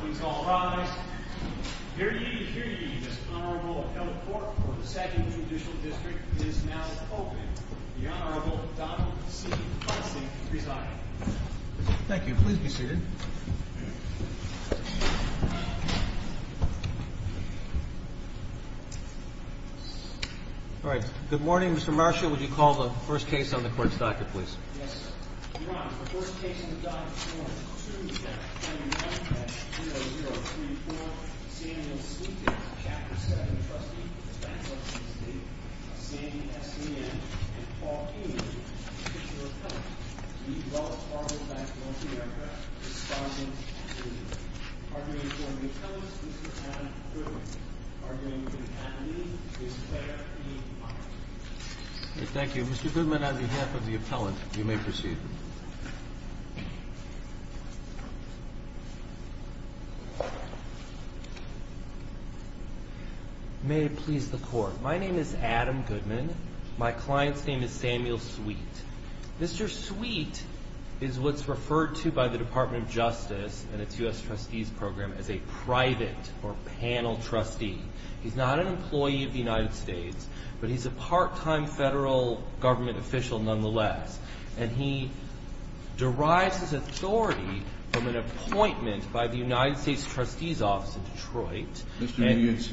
Please all rise. Here ye, here ye, this Honorable Appellate Court for the 2nd Judicial District is now open. The Honorable Donald C. Fossey is presiding. Thank you. Please be seated. All right. Good morning, Mr. Marshall. Would you call the first case on the court's docket, please? Yes, sir. Your Honor, the first case on the docket is warranted 2-021-0034, Samuel Sleepin, Chapter 7, Trustee. The defense lawsuit is the same as the man that Paul Keene is a particular appellant. He develops Fargo Bank's multi-aircraft, responding to the duty. Arguing for the appellant, Mr. Alan Goodman. Arguing for the appellant, Mr. Goodman, on behalf of the appellant. You may proceed. May it please the Court. My name is Adam Goodman. My client's name is Samuel Sweet. Mr. Sweet is what's referred to by the Department of Justice and its U.S. Trustees Program as a private or panel trustee. He's not an employee of the United States, but he's a part-time federal government official nonetheless. And he derives his authority from an appointment by the United States Trustee's Office in Detroit. Mr. Nugent,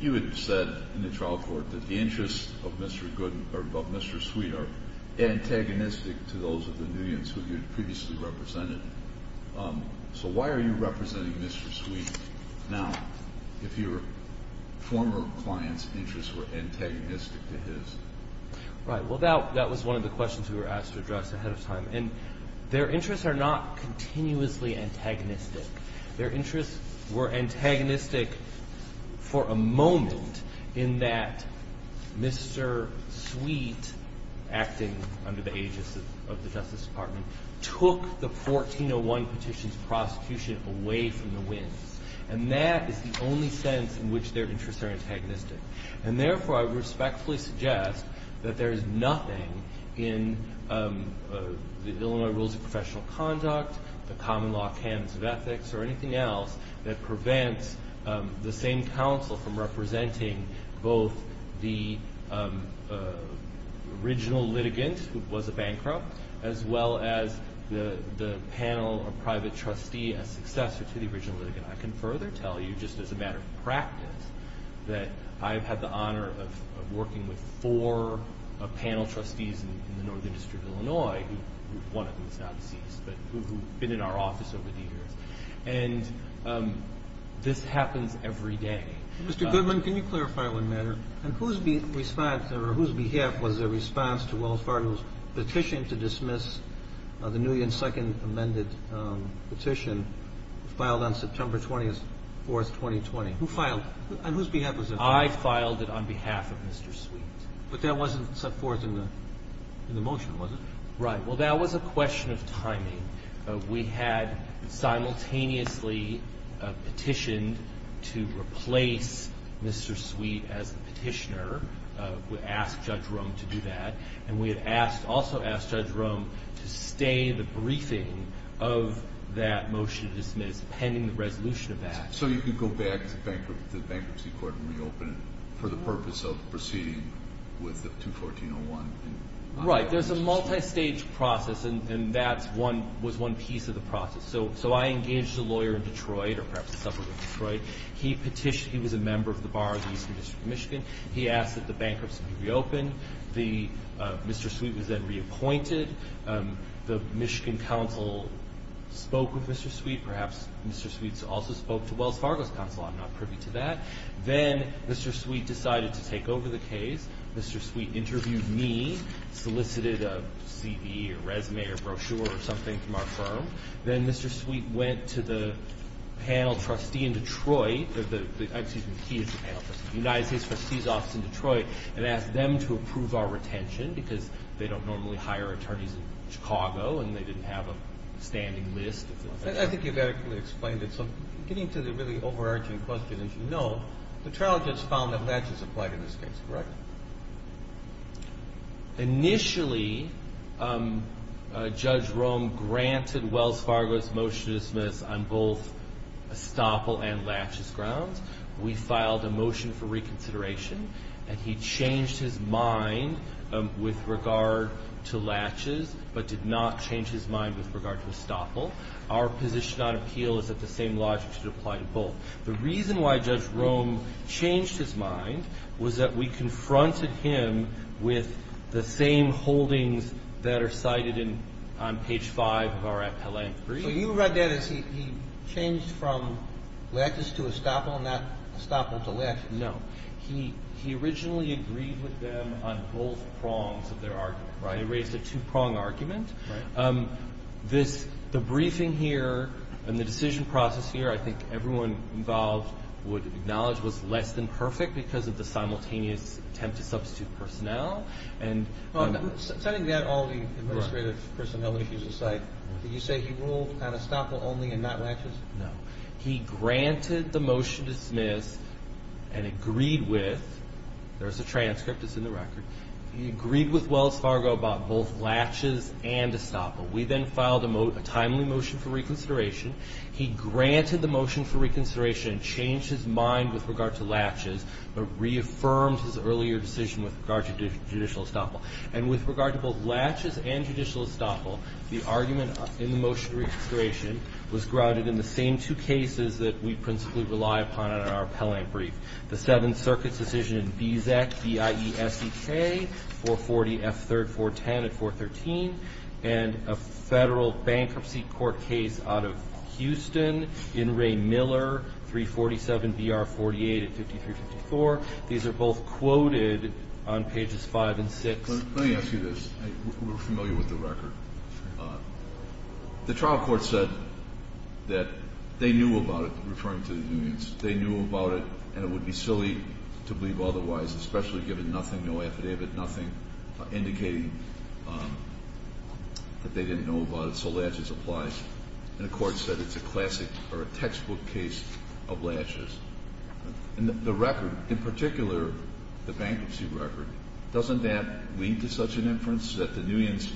you had said in the trial court that the interests of Mr. Sweet are antagonistic to those of the Nugents who you'd previously represented. So why are you representing Mr. Sweet now, if your former client's interests were antagonistic to his? Right. Well, that was one of the questions we were asked to address ahead of time. And their interests are not continuously antagonistic. Their interests were antagonistic for a moment in that Mr. Sweet, acting under the aegis of the Justice Department, took the 1401 petition's prosecution away from the winds. And that is the only sentence in which their interests are antagonistic. And therefore, I respectfully suggest that there is nothing in the Illinois Rules of Professional Conduct, the Common Law Candidates of Ethics, or anything else, that prevents the same counsel from representing both the original litigant, who was a bankrupt, as well as the panel or private trustee as successor to the original litigant. I can further tell you, just as a matter of practice, that I've had the honor of working with four panel trustees in the Northern District of Illinois, one of whom is now deceased, but who've been in our office over the years. And this happens every day. Mr. Goodman, can you clarify one matter? And whose response or whose behalf was the response to Will Farnham's petition to dismiss the new and second amended petition filed on September 24, 2020? Who filed it? And whose behalf was it? I filed it on behalf of Mr. Sweet. But that wasn't set forth in the motion, was it? Right. Well, that was a question of timing. We had simultaneously petitioned to replace Mr. Sweet as the petitioner. We asked Judge Rome to do that. And we had also asked Judge Rome to stay the briefing of that motion to dismiss, pending the resolution of that. So you could go back to the bankruptcy court and reopen it for the purpose of proceeding with the 214.01? Right. There's a multistage process, and that was one piece of the process. So I engaged a lawyer in Detroit, or perhaps a suburb of Detroit. He petitioned. He was a member of the Bar of the Eastern District of Michigan. He asked that the bankruptcy be reopened. Mr. Sweet was then reappointed. The Michigan council spoke with Mr. Sweet. Perhaps Mr. Sweet also spoke to Wells Fargo's council. I'm not privy to that. Then Mr. Sweet decided to take over the case. Mr. Sweet interviewed me, solicited a CV or resume or brochure or something from our firm. Then Mr. Sweet went to the panel trustee in Detroit. Excuse me, he is the panel trustee. The United States trustee's office in Detroit and asked them to approve our retention because they don't normally hire attorneys in Chicago and they didn't have a standing list. I think you've adequately explained it. So getting to the really overarching question, as you know, the trial judge found that latches applied in this case, correct? Initially, Judge Rome granted Wells Fargo's motion to dismiss on both estoppel and latches grounds. We filed a motion for reconsideration, and he changed his mind with regard to latches but did not change his mind with regard to estoppel. Our position on appeal is that the same logic should apply to both. The reason why Judge Rome changed his mind was that we confronted him with the same holdings that are cited on page 5 of our appellant brief. So you read that as he changed from latches to estoppel, not estoppel to latches. No. He originally agreed with them on both prongs of their argument. He raised a two-prong argument. The briefing here and the decision process here, I think everyone involved would acknowledge, was less than perfect because of the simultaneous attempt to substitute personnel. Setting that, all the administrative personnel issues aside, did you say he ruled on estoppel only and not latches? No. He granted the motion to dismiss and agreed with, there's a transcript that's in the record, He agreed with Wells Fargo about both latches and estoppel. We then filed a timely motion for reconsideration. He granted the motion for reconsideration and changed his mind with regard to latches but reaffirmed his earlier decision with regard to judicial estoppel. And with regard to both latches and judicial estoppel, the argument in the motion for reconsideration was grounded in the same two cases that we principally rely upon in our appellant brief. The Seventh Circuit's decision in BISEC, B-I-E-S-E-K, 440 F. 3rd 410 at 413, and a Federal Bankruptcy Court case out of Houston, in Ray Miller, 347 B.R. 48 at 5354. These are both quoted on pages 5 and 6. Let me ask you this. We're familiar with the record. The trial court said that they knew about it, referring to the unions. They knew about it, and it would be silly to believe otherwise, especially given nothing, no affidavit, nothing indicating that they didn't know about it. So latches applies. And the court said it's a classic or a textbook case of latches. And the record, in particular the bankruptcy record, doesn't that lead to such an inference that the unions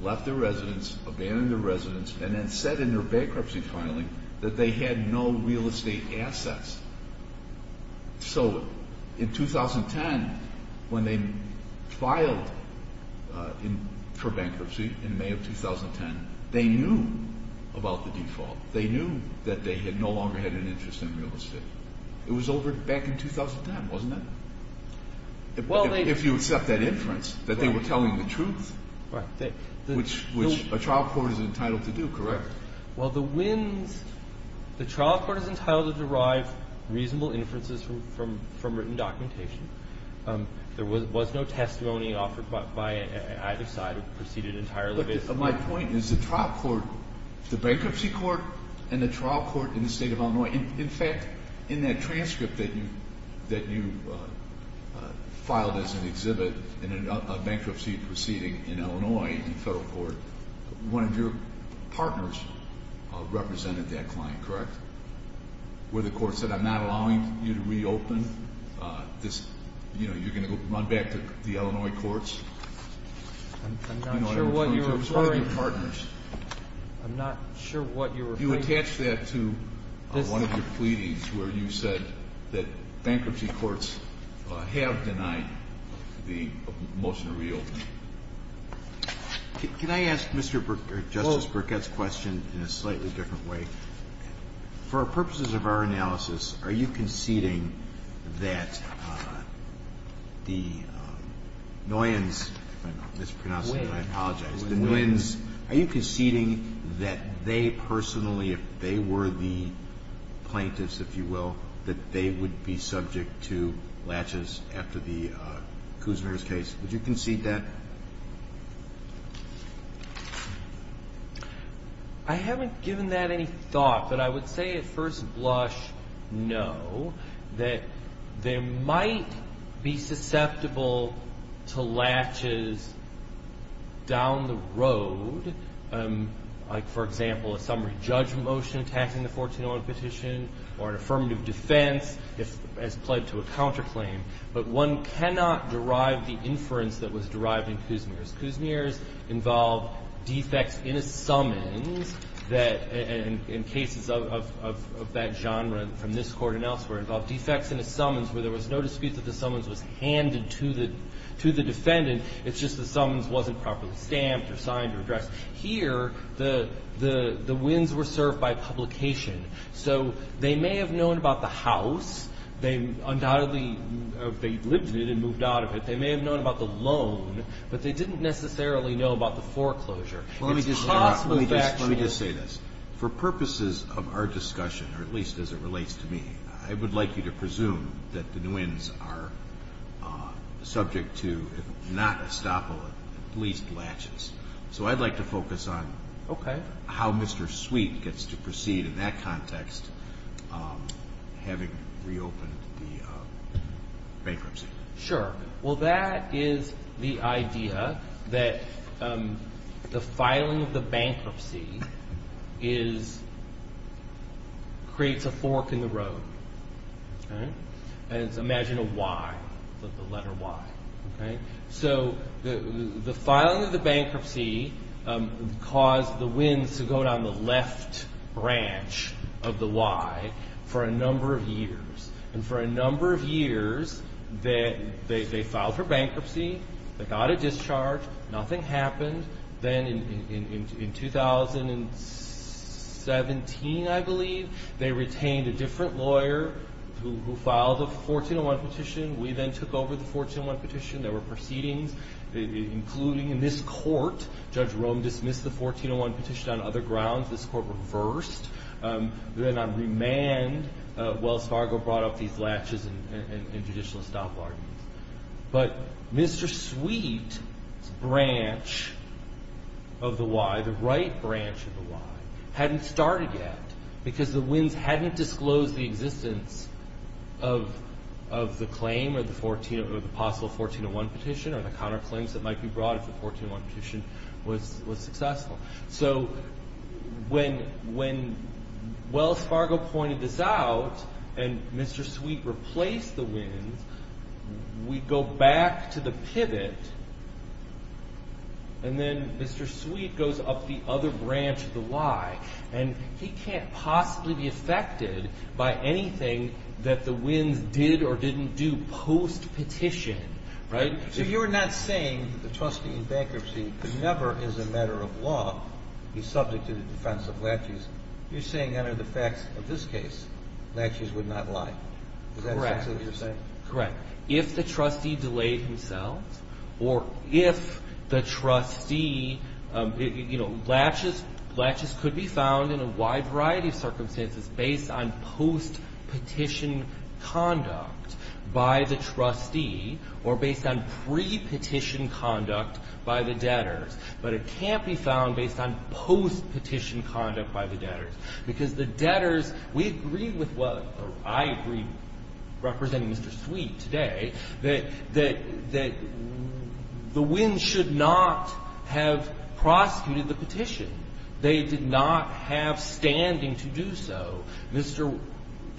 left their residence, abandoned their residence, and then said in their bankruptcy filing that they had no real estate assets. So in 2010, when they filed for bankruptcy in May of 2010, they knew about the default. They knew that they no longer had an interest in real estate. It was over back in 2010, wasn't it? If you accept that inference, that they were telling the truth, which a trial court is entitled to do, correct? Well, the WINS, the trial court is entitled to derive reasonable inferences from written documentation. There was no testimony offered by either side. It was preceded entirely by this. My point is the trial court, the bankruptcy court and the trial court in the State of Illinois, in fact, in that transcript that you filed as an exhibit in a bankruptcy proceeding in Illinois, in federal court, one of your partners represented that client, correct? Where the court said, I'm not allowing you to reopen. You're going to run back to the Illinois courts. I'm not sure what you're referring to. It was one of your partners. I'm not sure what you're referring to. You attach that to one of your pleadings where you said that bankruptcy courts have denied the motion to reopen. Can I ask Justice Burkett's question in a slightly different way? For purposes of our analysis, are you conceding that the Noyens, if I'm mispronouncing if they were the plaintiffs, if you will, that they would be subject to latches after the Kusner's case? Would you concede that? I haven't given that any thought. But I would say at first blush, no, that they might be susceptible to latches down the road, like for example a summary judge motion attacking the 14-O petition or an affirmative defense as played to a counterclaim. But one cannot derive the inference that was derived in Kusner's. Kusner's involved defects in a summons that in cases of that genre from this court and elsewhere, involved defects in a summons where there was no dispute that the summons was handed to the defendant. It's just the summons wasn't properly stamped or signed or addressed. Here the Noyens were served by publication. So they may have known about the house. They undoubtedly lived in it and moved out of it. They may have known about the loan, but they didn't necessarily know about the foreclosure. Let me just say this. For purposes of our discussion, or at least as it relates to me, I would like you to presume that the Noyens are subject to, if not estoppel, at least latches. So I'd like to focus on how Mr. Sweet gets to proceed in that context, having reopened the bankruptcy. Sure. Well, that is the idea that the filing of the bankruptcy creates a fork in the road. Imagine a Y, the letter Y. So the filing of the bankruptcy caused the winds to go down the left branch of the Y for a number of years. And for a number of years, they filed for bankruptcy. They got a discharge. Nothing happened. Then in 2017, I believe, they retained a different lawyer who filed a 1401 petition. We then took over the 1401 petition. There were proceedings, including in this court. Judge Rome dismissed the 1401 petition on other grounds. This court reversed. Then on remand, Wells Fargo brought up these latches and judicial estoppel arguments. But Mr. Sweet's branch of the Y, the right branch of the Y, hadn't started yet because the winds hadn't disclosed the existence of the claim or the possible 1401 petition or the counterclaims that might be brought if the 1401 petition was successful. So when Wells Fargo pointed this out and Mr. Sweet replaced the winds, we go back to the pivot, and then Mr. Sweet goes up the other branch of the Y. And he can't possibly be affected by anything that the winds did or didn't do post-petition. So you're not saying that the trustee in bankruptcy could never, as a matter of law, be subject to the defense of latches. You're saying under the facts of this case, latches would not lie. Is that exactly what you're saying? Correct. If the trustee delayed himself or if the trustee, you know, latches could be found in a wide variety of circumstances based on post-petition conduct by the trustee or based on pre-petition conduct by the debtors. But it can't be found based on post-petition conduct by the debtors. Because the debtors, we agree with what I agree, representing Mr. Sweet today, that the winds should not have prosecuted the petition. They did not have standing to do so. Mr.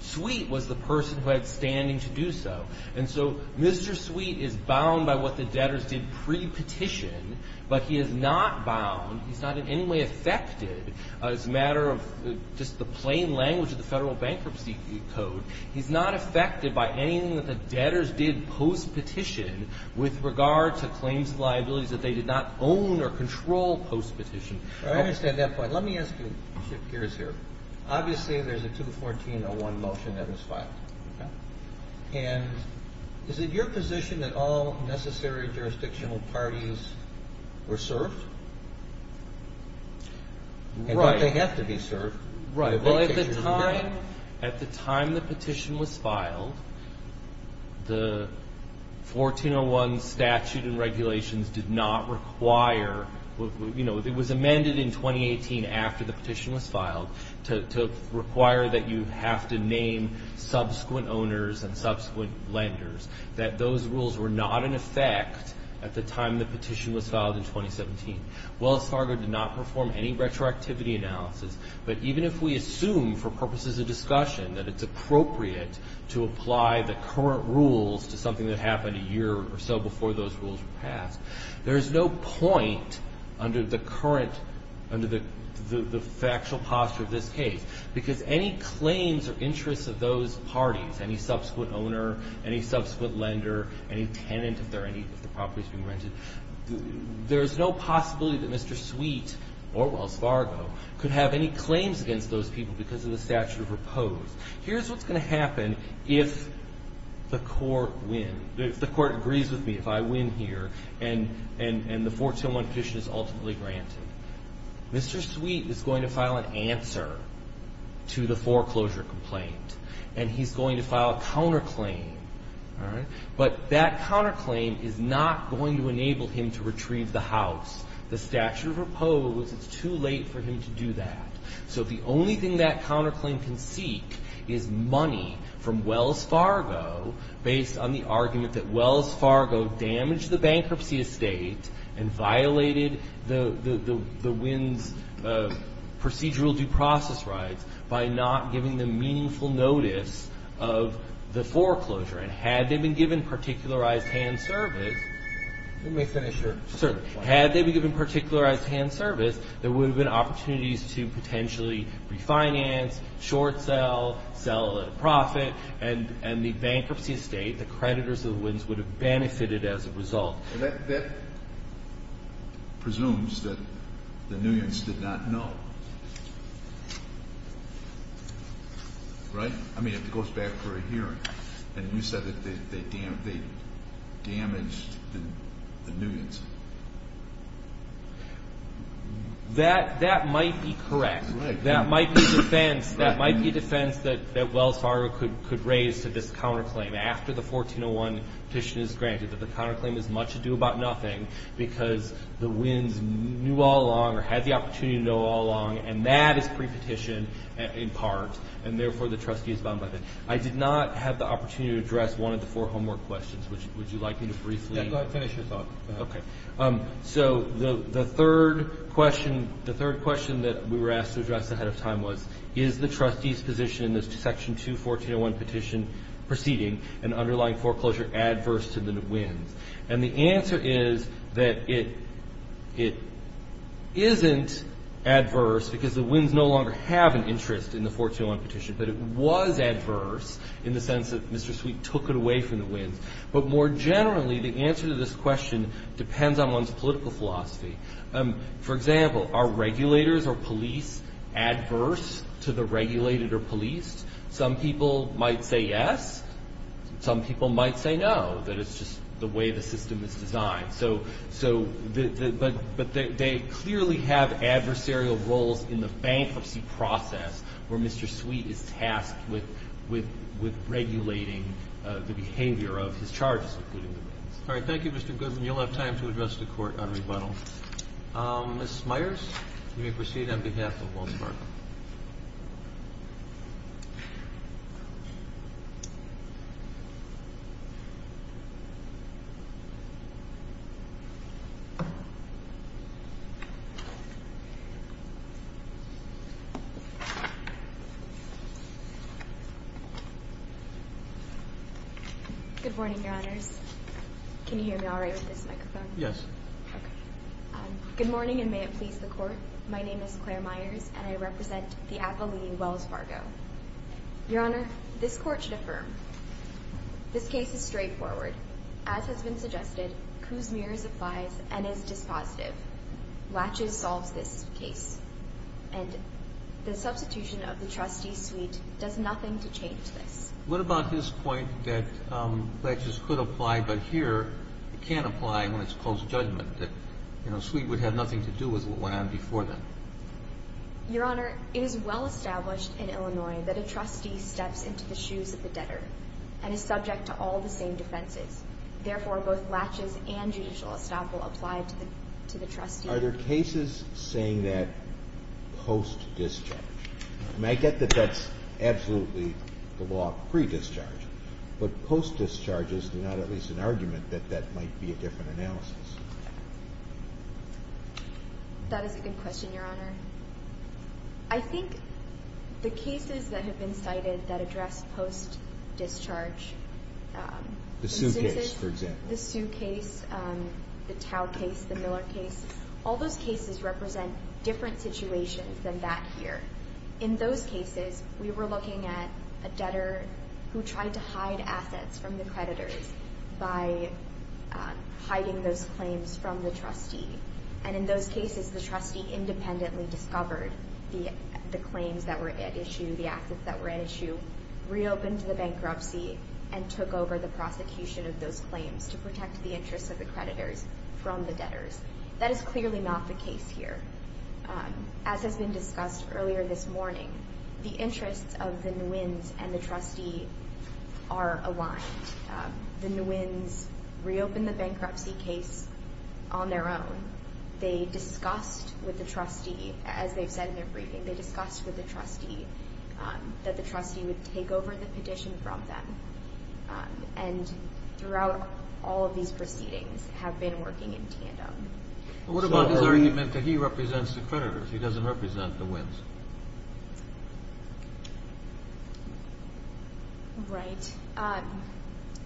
Sweet was the person who had standing to do so. And so Mr. Sweet is bound by what the debtors did pre-petition, but he is not bound, he's not in any way affected as a matter of just the plain language of the Federal Bankruptcy Code. He's not affected by anything that the debtors did post-petition with regard to claims of liabilities that they did not own or control post-petition. I understand that point. Let me ask you, Chip Gears here. Obviously, there's a 214-01 motion that was filed. Okay. And is it your position that all necessary jurisdictional parties were served? Right. And that they have to be served. Right. Well, at the time the petition was filed, the 14-01 statute and regulations did not require, you know, it was amended in 2018 after the petition was filed, to require that you have to name subsequent owners and subsequent lenders, that those rules were not in effect at the time the petition was filed in 2017. Wells Fargo did not perform any retroactivity analysis, but even if we assume for purposes of discussion that it's appropriate to apply the current rules to something that happened a year or so before those rules were passed, there is no point under the current, under the factual posture of this case, because any claims or interests of those parties, any subsequent owner, any subsequent lender, any tenant, if there are any properties being rented, there is no possibility that Mr. Sweet or Wells Fargo could have any claims against those people because of the statute of repose. Here's what's going to happen if the court wins, if the court agrees with me, if I win here, and the 14-01 petition is ultimately granted. Mr. Sweet is going to file an answer to the foreclosure complaint, and he's going to file a counterclaim, all right? But that counterclaim is not going to enable him to retrieve the house. The statute of repose, it's too late for him to do that. So if the only thing that counterclaim can seek is money from Wells Fargo based on the argument that Wells Fargo damaged the bankruptcy estate and violated the WINS procedural due process rights by not giving them meaningful notice of the foreclosure, and had they been given particularized hand service, let me finish your sentence. Had they been given particularized hand service, there would have been opportunities to potentially refinance, short sell, sell at a profit, and the bankruptcy estate, the creditors of the WINS, would have benefited as a result. That presumes that the Nuyens did not know, right? I mean, it goes back to a hearing, and you said that they damaged the Nuyens. That might be correct. That might be defense that Wells Fargo could raise to this counterclaim after the 1401 petition is granted, that the counterclaim has much to do about nothing because the WINS knew all along or had the opportunity to know all along, and that is pre-petition in part, and therefore the trustee is bound by that. I did not have the opportunity to address one of the four homework questions. Would you like me to briefly? Yeah, go ahead and finish your thought. Okay. So the third question that we were asked to address ahead of time was, is the trustee's position in this Section 214.01 petition proceeding and underlying foreclosure adverse to the Nuyens? And the answer is that it isn't adverse because the WINS no longer have an interest in the 1401 petition, but it was adverse in the sense that Mr. Sweet took it away from the WINS. But more generally, the answer to this question depends on one's political philosophy. For example, are regulators or police adverse to the regulated or policed? Some people might say yes. Some people might say no, that it's just the way the system is designed. But they clearly have adversarial roles in the bankruptcy process where Mr. Sweet is tasked with regulating the behavior of his charges, including the WINS. All right. Thank you, Mr. Goodman. You'll have time to address the Court on rebuttal. Ms. Myers, you may proceed on behalf of Wolfpark. Good morning, Your Honors. Can you hear me all right with this microphone? Yes. Okay. Good morning, and may it please the Court. My name is Claire Myers, and I represent the appellee, Wells Fargo. Your Honor, this Court should affirm this case is straightforward. As has been suggested, Kuzmir applies and is dispositive. Latches solves this case, and the substitution of the trustee, Sweet, does nothing to change this. What about his point that latches could apply, but here it can't apply when it's close judgment, that Sweet would have nothing to do with what went on before that? Your Honor, it is well established in Illinois that a trustee steps into the shoes of the debtor and is subject to all the same defenses. Therefore, both latches and judicial estoppel apply to the trustee. Are there cases saying that post-discharge? And I get that that's absolutely the law of pre-discharge, but post-discharge is not at least an argument that that might be a different analysis. That is a good question, Your Honor. I think the cases that have been cited that address post-discharge. The Sue case, for example. The Sue case, the Tao case, the Miller case. All those cases represent different situations than that here. In those cases, we were looking at a debtor who tried to hide assets from the creditors by hiding those claims from the trustee. And in those cases, the trustee independently discovered the claims that were at issue, the assets that were at issue, reopened the bankruptcy, and took over the prosecution of those claims to protect the interests of the creditors from the debtors. That is clearly not the case here. As has been discussed earlier this morning, the interests of the Nguyen's and the trustee are aligned. The Nguyen's reopened the bankruptcy case on their own. They discussed with the trustee, as they've said in their briefing, they discussed with the trustee that the trustee would take over the petition from them. And throughout all of these proceedings have been working in tandem. What about his argument that he represents the creditors? He doesn't represent the Nguyen's. Right.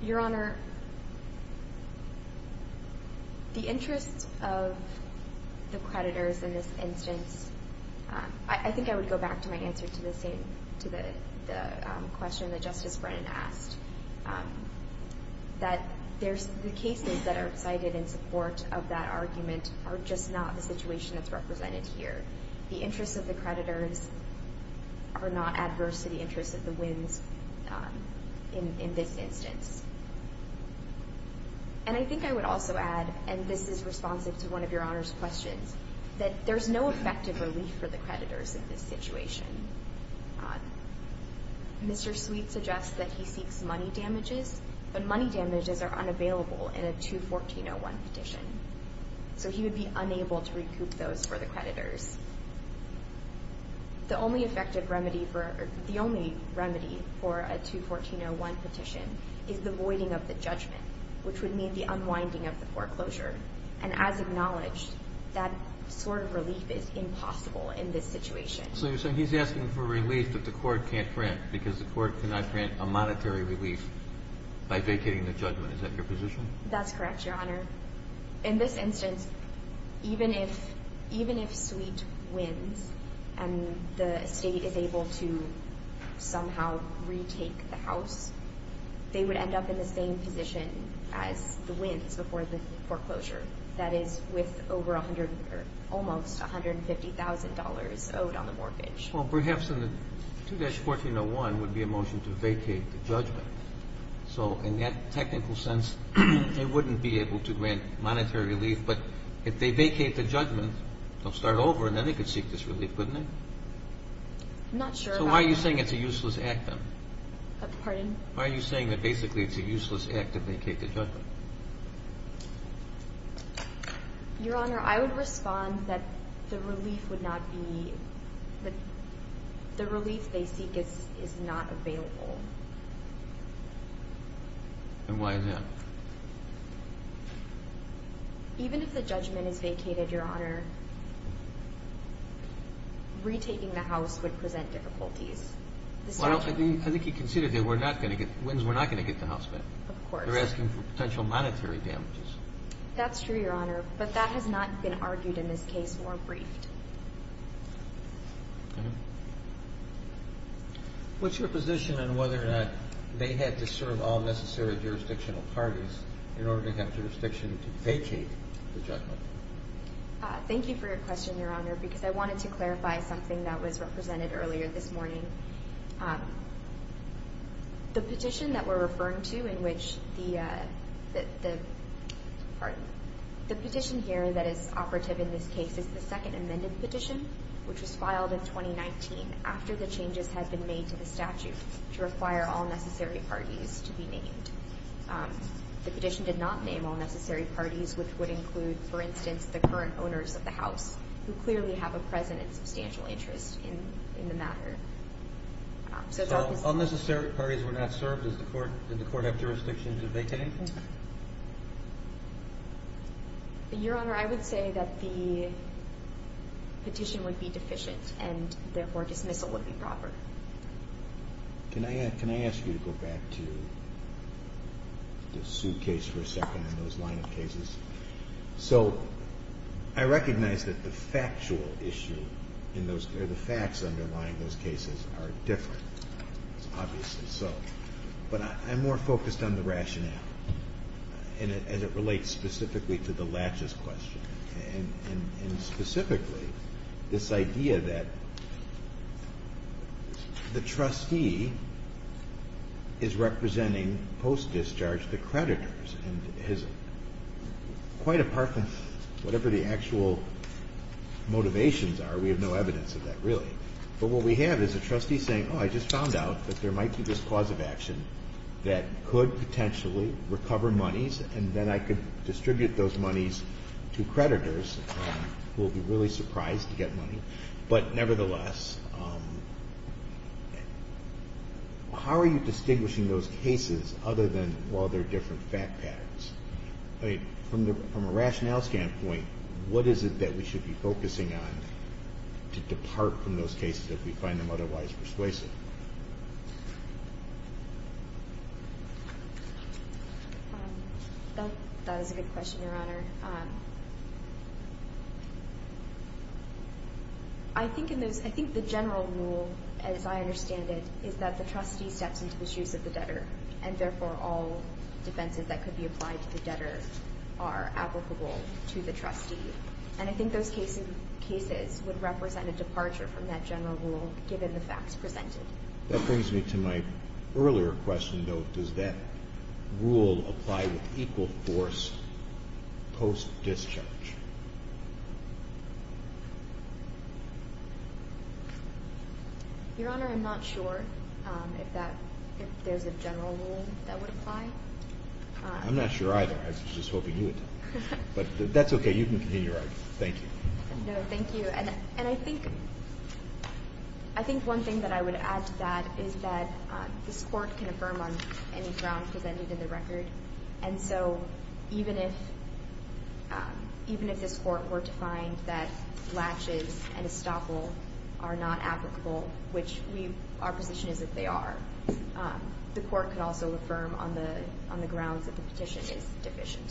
Your Honor, the interests of the creditors in this instance, I think I would go back to my answer to the question that Justice Brennan asked, that the cases that are cited in support of that argument are just not the situation that's represented here. The interests of the creditors are not adverse to the interests of the Nguyen's in this instance. And I think I would also add, and this is responsive to one of Your Honor's questions, that there's no effective relief for the creditors in this situation. Mr. Sweet suggests that he seeks money damages, but money damages are unavailable in a 214-01 petition. So he would be unable to recoup those for the creditors. The only effective remedy for, the only remedy for a 214-01 petition is the voiding of the judgment, which would mean the unwinding of the foreclosure. And as acknowledged, that sort of relief is impossible in this situation. So you're saying he's asking for relief that the Court can't grant, because the Court cannot grant a monetary relief by vacating the judgment. Is that your position? That's correct, Your Honor. In this instance, even if Sweet wins and the State is able to somehow retake the house, they would end up in the same position as the Nguyen's before the foreclosure, that is with over almost $150,000 owed on the mortgage. Well, perhaps in the 214-01 would be a motion to vacate the judgment. So in that technical sense, they wouldn't be able to grant monetary relief. But if they vacate the judgment, they'll start over, and then they could seek this relief, couldn't they? I'm not sure about that. So why are you saying it's a useless act, then? Pardon? Why are you saying that basically it's a useless act to vacate the judgment? Your Honor, I would respond that the relief they seek is not available. And why is that? Even if the judgment is vacated, Your Honor, retaking the house would present difficulties. Well, I think he considered that Nguyen's were not going to get the house back. Of course. They're asking for potential monetary damages. That's true, Your Honor, but that has not been argued in this case or briefed. Okay. What's your position on whether or not they had to serve all necessary jurisdictional parties in order to have jurisdiction to vacate the judgment? Thank you for your question, Your Honor, because I wanted to clarify something that was represented earlier this morning. The petition that we're referring to in which the petition here that is operative in this case is the second amended petition, which was filed in 2019 after the changes had been made to the statute to require all necessary parties to be named. The petition did not name all necessary parties, which would include, for instance, the current owners of the house, who clearly have a present and substantial interest in the matter. So all necessary parties were not served? Did the court have jurisdiction to vacate? Your Honor, I would say that the petition would be deficient and, therefore, dismissal would be proper. Can I ask you to go back to the suitcase for a second and those line-up cases? So I recognize that the factual issue or the facts underlying those cases are different. It's obviously so. But I'm more focused on the rationale as it relates specifically to the latches question and specifically this idea that the trustee is representing post-discharge the creditors and has quite a park of whatever the actual motivations are. We have no evidence of that, really. But what we have is a trustee saying, oh, I just found out that there might be this cause of action that could potentially recover monies and then I could distribute those monies to creditors who will be really surprised to get money. But nevertheless, how are you distinguishing those cases other than while they're different fact patterns? From a rationale standpoint, what is it that we should be focusing on to depart from those cases if we find them otherwise persuasive? That was a good question, Your Honor. I think the general rule, as I understand it, is that the trustee steps into the shoes of the debtor and therefore all defenses that could be applied to the debtor are applicable to the trustee. And I think those cases would represent a departure from that general rule given the facts presented. That brings me to my earlier question, though. Does that rule apply with equal force post-discharge? Your Honor, I'm not sure if there's a general rule that would apply. I'm not sure either. I was just hoping you would tell me. But that's okay. You can continue your argument. Thank you. No, thank you. And I think one thing that I would add to that is that this Court can affirm on any ground presented in the record. And so even if this Court were to find that latches and estoppel are not applicable, which our position is that they are, the Court can also affirm on the grounds that the petition is deficient.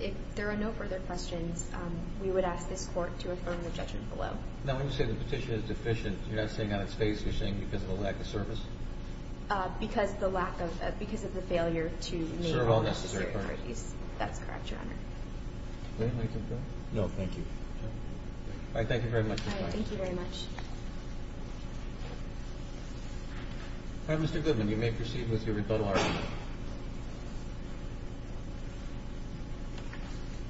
If there are no further questions, we would ask this Court to affirm the judgment below. Now, when you say the petition is deficient, you're not saying on its face. You're saying because of the lack of service? Because of the failure to meet all necessary priorities. Serve all necessary priorities. That's correct, Your Honor. May I take that? No, thank you. All right. Thank you very much, Your Honor. All right. Thank you very much. All right, Mr. Goodman, you may proceed with your rebuttal argument.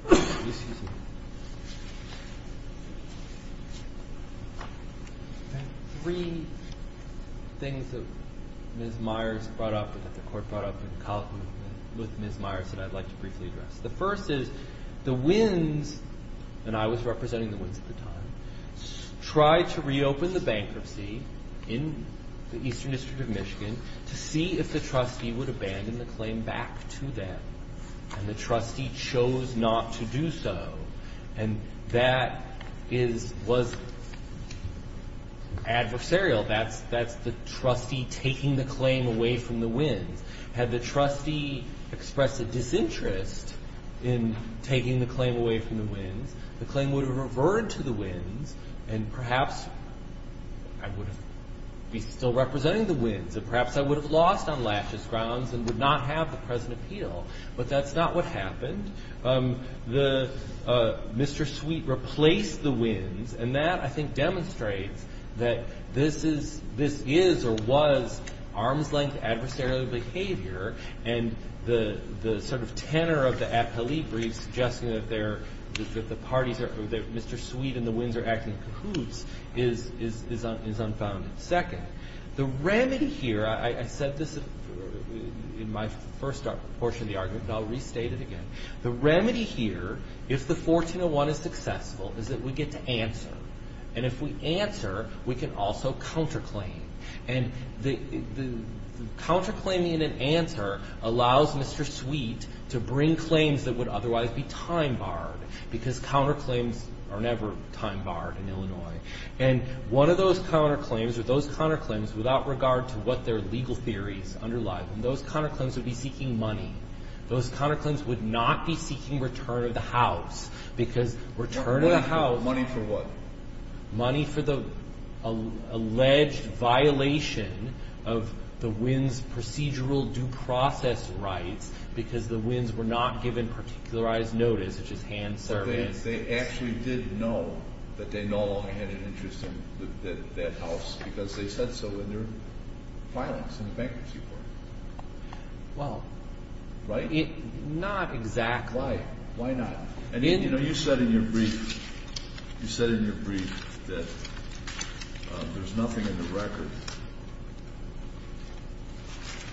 Excuse me. I have three things that Ms. Myers brought up, that the Court brought up with Ms. Myers that I'd like to briefly address. The first is the Wins, and I was representing the Wins at the time, tried to reopen the bankruptcy in the Eastern District of Michigan to see if the trustee would abandon the claim back to them. And the trustee chose not to do so. And that was adversarial. That's the trustee taking the claim away from the Wins. Had the trustee expressed a disinterest in taking the claim away from the Wins, the claim would have reverted to the Wins, and perhaps I would be still representing the Wins, and perhaps I would have lost on laches grounds and would not have the present appeal. But that's not what happened. Mr. Sweet replaced the Wins, and that, I think, demonstrates that this is or was arm's-length adversarial behavior, and the sort of tenor of the appellee brief suggesting that Mr. Sweet and the Wins are acting in cahoots is unfounded. Second, the remedy here, I said this in my first portion of the argument, and I'll restate it again. The remedy here, if the 1401 is successful, is that we get to answer. And if we answer, we can also counterclaim. And the counterclaiming in an answer allows Mr. Sweet to bring claims that would otherwise be time-barred, because counterclaims are never time-barred in Illinois. And one of those counterclaims or those counterclaims, without regard to what their legal theories underlie them, those counterclaims would be seeking money. Those counterclaims would not be seeking return of the house, because return of the house... Money for what? Money for the alleged violation of the Wins' procedural due process rights, because the Wins were not given particularized notice, such as hand service. But they actually did know that they no longer had an interest in that house, because they said so in their filings in the bankruptcy court. Well... Right? Not exactly. Why? Why not? You know, you said in your brief that there's nothing in the record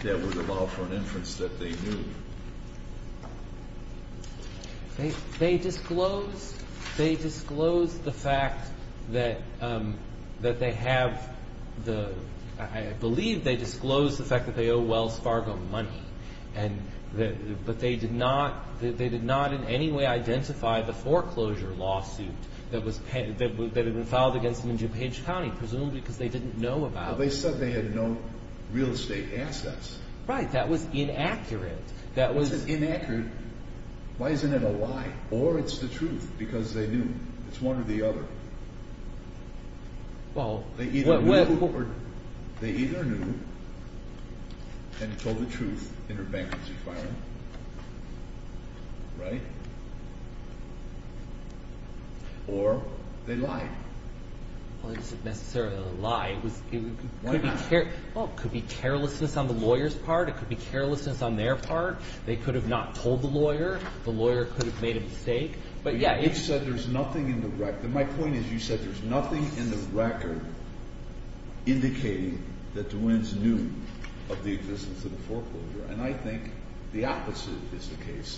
that would allow for an inference that they knew. They disclosed the fact that they have the... I believe they disclosed the fact that they owe Wells Fargo money, but they did not in any way identify the foreclosure lawsuit that had been filed against them in DuPage County, presumably because they didn't know about it. Well, they said they had no real estate assets. Right, that was inaccurate. If it's inaccurate, why isn't it a lie? Or it's the truth, because they knew. It's one or the other. Well... They either knew and told the truth in their bankruptcy filing. Right? Or they lied. Well, it isn't necessarily a lie. Why not? Well, it could be carelessness on the lawyer's part. It could be carelessness on their part. They could have not told the lawyer. The lawyer could have made a mistake. But, yeah, it's... You said there's nothing in the record. My point is you said there's nothing in the record indicating that DeWinns knew of the existence of the foreclosure.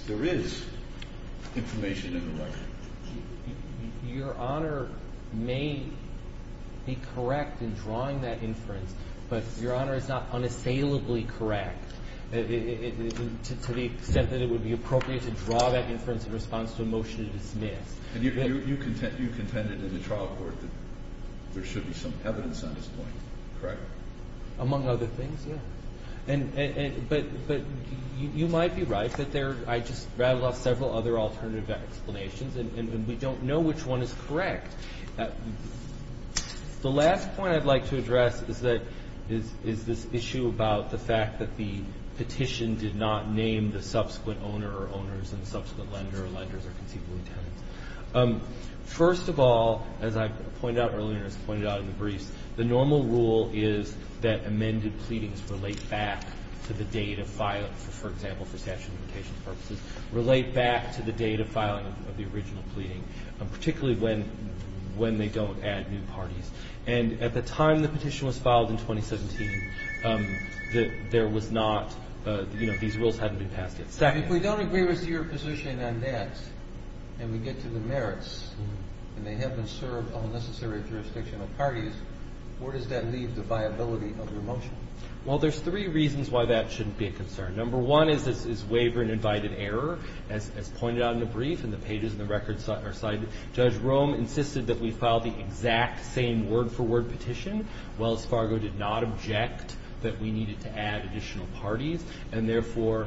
There is information in the record. Your Honor may be correct in drawing that inference, but Your Honor is not unassailably correct to the extent that it would be appropriate to draw that inference in response to a motion to dismiss. And you contended in the trial court that there should be some evidence on this point, correct? Among other things, yeah. But you might be right that there... I just rattled off several other alternative explanations, and we don't know which one is correct. The last point I'd like to address is that... is this issue about the fact that the petition did not name the subsequent owner or owners and the subsequent lender or lenders or conceivable tenants. First of all, as I pointed out earlier and as I pointed out in the briefs, the normal rule is that amended pleadings relate back to the date of filing, for example, for statute of limitations purposes, relate back to the date of filing of the original pleading, particularly when they don't add new parties. And at the time the petition was filed in 2017, there was not... these rules hadn't been passed yet. If we don't agree with your position on that, and we get to the merits, and they have been served on the necessary jurisdiction of parties, where does that leave the viability of your motion? Well, there's three reasons why that shouldn't be a concern. Number one is waiver and invited error. As pointed out in the brief and the pages and the records are cited, Judge Rome insisted that we file the exact same word-for-word petition. Wells Fargo did not object that we needed to add additional parties, and therefore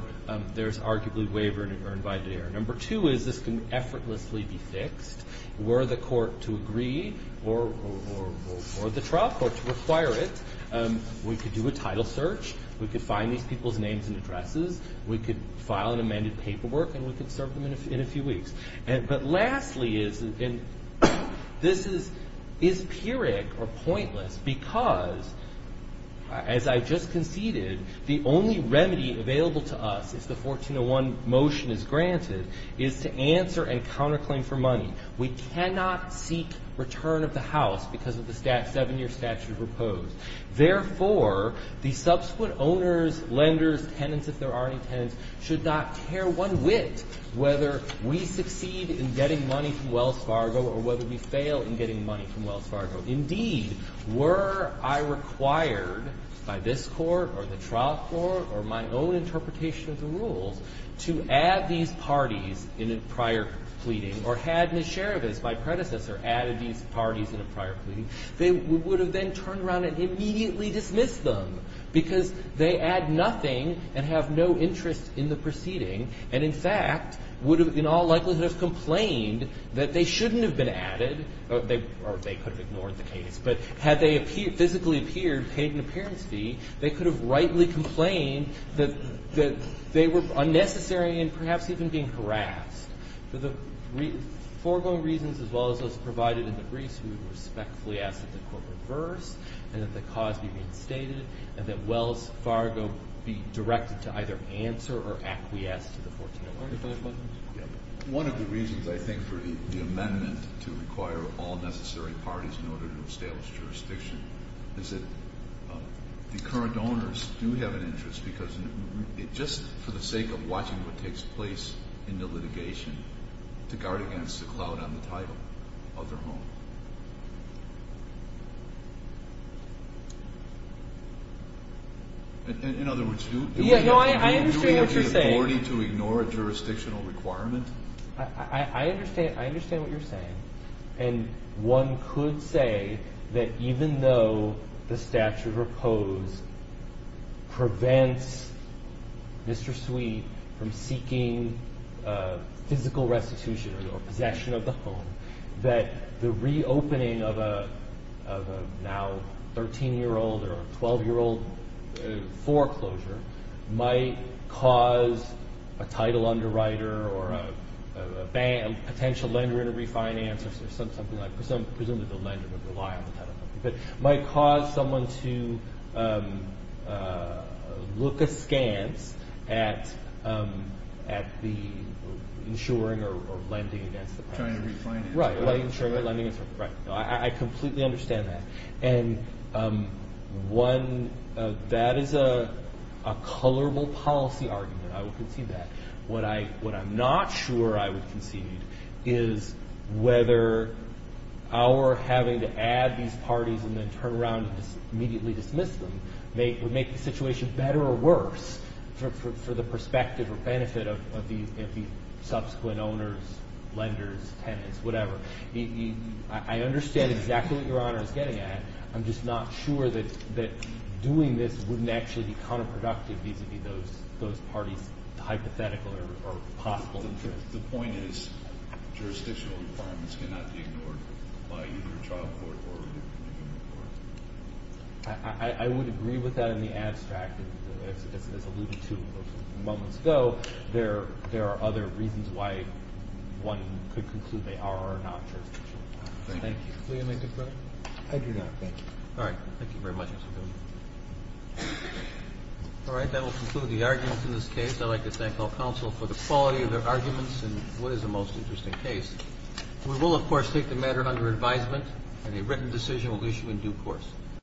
there's arguably waiver or invited error. Number two is this can effortlessly be fixed. Were the court to agree or the trial court to require it, we could do a title search, we could find these people's names and addresses, we could file an amended paperwork, and we could serve them in a few weeks. But lastly is, and this is empiric or pointless, because, as I just conceded, the only remedy available to us, if the 1401 motion is granted, is to answer and counterclaim for money. We cannot seek return of the house because of the seven-year statute proposed. Therefore, the subsequent owners, lenders, tenants, if there are any tenants, should not tear one wit whether we succeed in getting money from Wells Fargo or whether we fail in getting money from Wells Fargo. Indeed, were I required by this Court or the trial court or my own interpretation of the rules to add these parties in a prior pleading, or had Ms. Shereves, my predecessor, added these parties in a prior pleading, they would have then turned around and immediately dismissed them because they add nothing and have no interest in the proceeding, and in fact would have in all likelihood complained that they shouldn't have been in the case. But had they physically appeared, paid an appearance fee, they could have rightly complained that they were unnecessary and perhaps even being harassed. For the foregoing reasons as well as those provided in the briefs, we would respectfully ask that the Court reverse and that the cause be reinstated and that Wells Fargo be directed to either answer or acquiesce to the 1401. One of the reasons I think for the amendment to require all necessary parties in order to establish jurisdiction is that the current owners do have an interest because just for the sake of watching what takes place in the litigation to guard against a cloud on the title of their home. In other words, do we have the authority to ignore a jurisdiction or requirement? I understand what you're saying, and one could say that even though the statute proposed prevents Mr. Sweet from seeking physical restitution or possession of the home, that the reopening of a now 13-year-old or 12-year-old foreclosure might cause a title underwriter or a potential lender to refinance or something like that. Presumably the lender would rely on the title. It might cause someone to look askance at the insuring or lending against the title. Trying to refinance. Right, insuring or lending. I completely understand that. And that is a colorable policy argument. I would concede that. What I'm not sure I would concede is whether our having to add these parties and then turn around and immediately dismiss them would make the situation better or worse for the perspective or benefit of the subsequent owners, lenders, tenants, whatever. I understand exactly what Your Honor is getting at. I'm just not sure that doing this wouldn't actually be counterproductive vis-a-vis those parties' hypothetical or possible interest. The point is jurisdictional requirements cannot be ignored by either a trial court or an indigent court. I would agree with that in the abstract. As alluded to moments ago, there are other reasons why one could conclude they are or are not jurisdictional. Thank you. Will you make a comment? I do not. Thank you. All right. Thank you very much, Mr. Daly. All right. That will conclude the arguments in this case. I'd like to thank all counsel for the quality of their arguments and what is the most interesting case. We will, of course, take the matter under advisement, and a written decision will be issued in due course.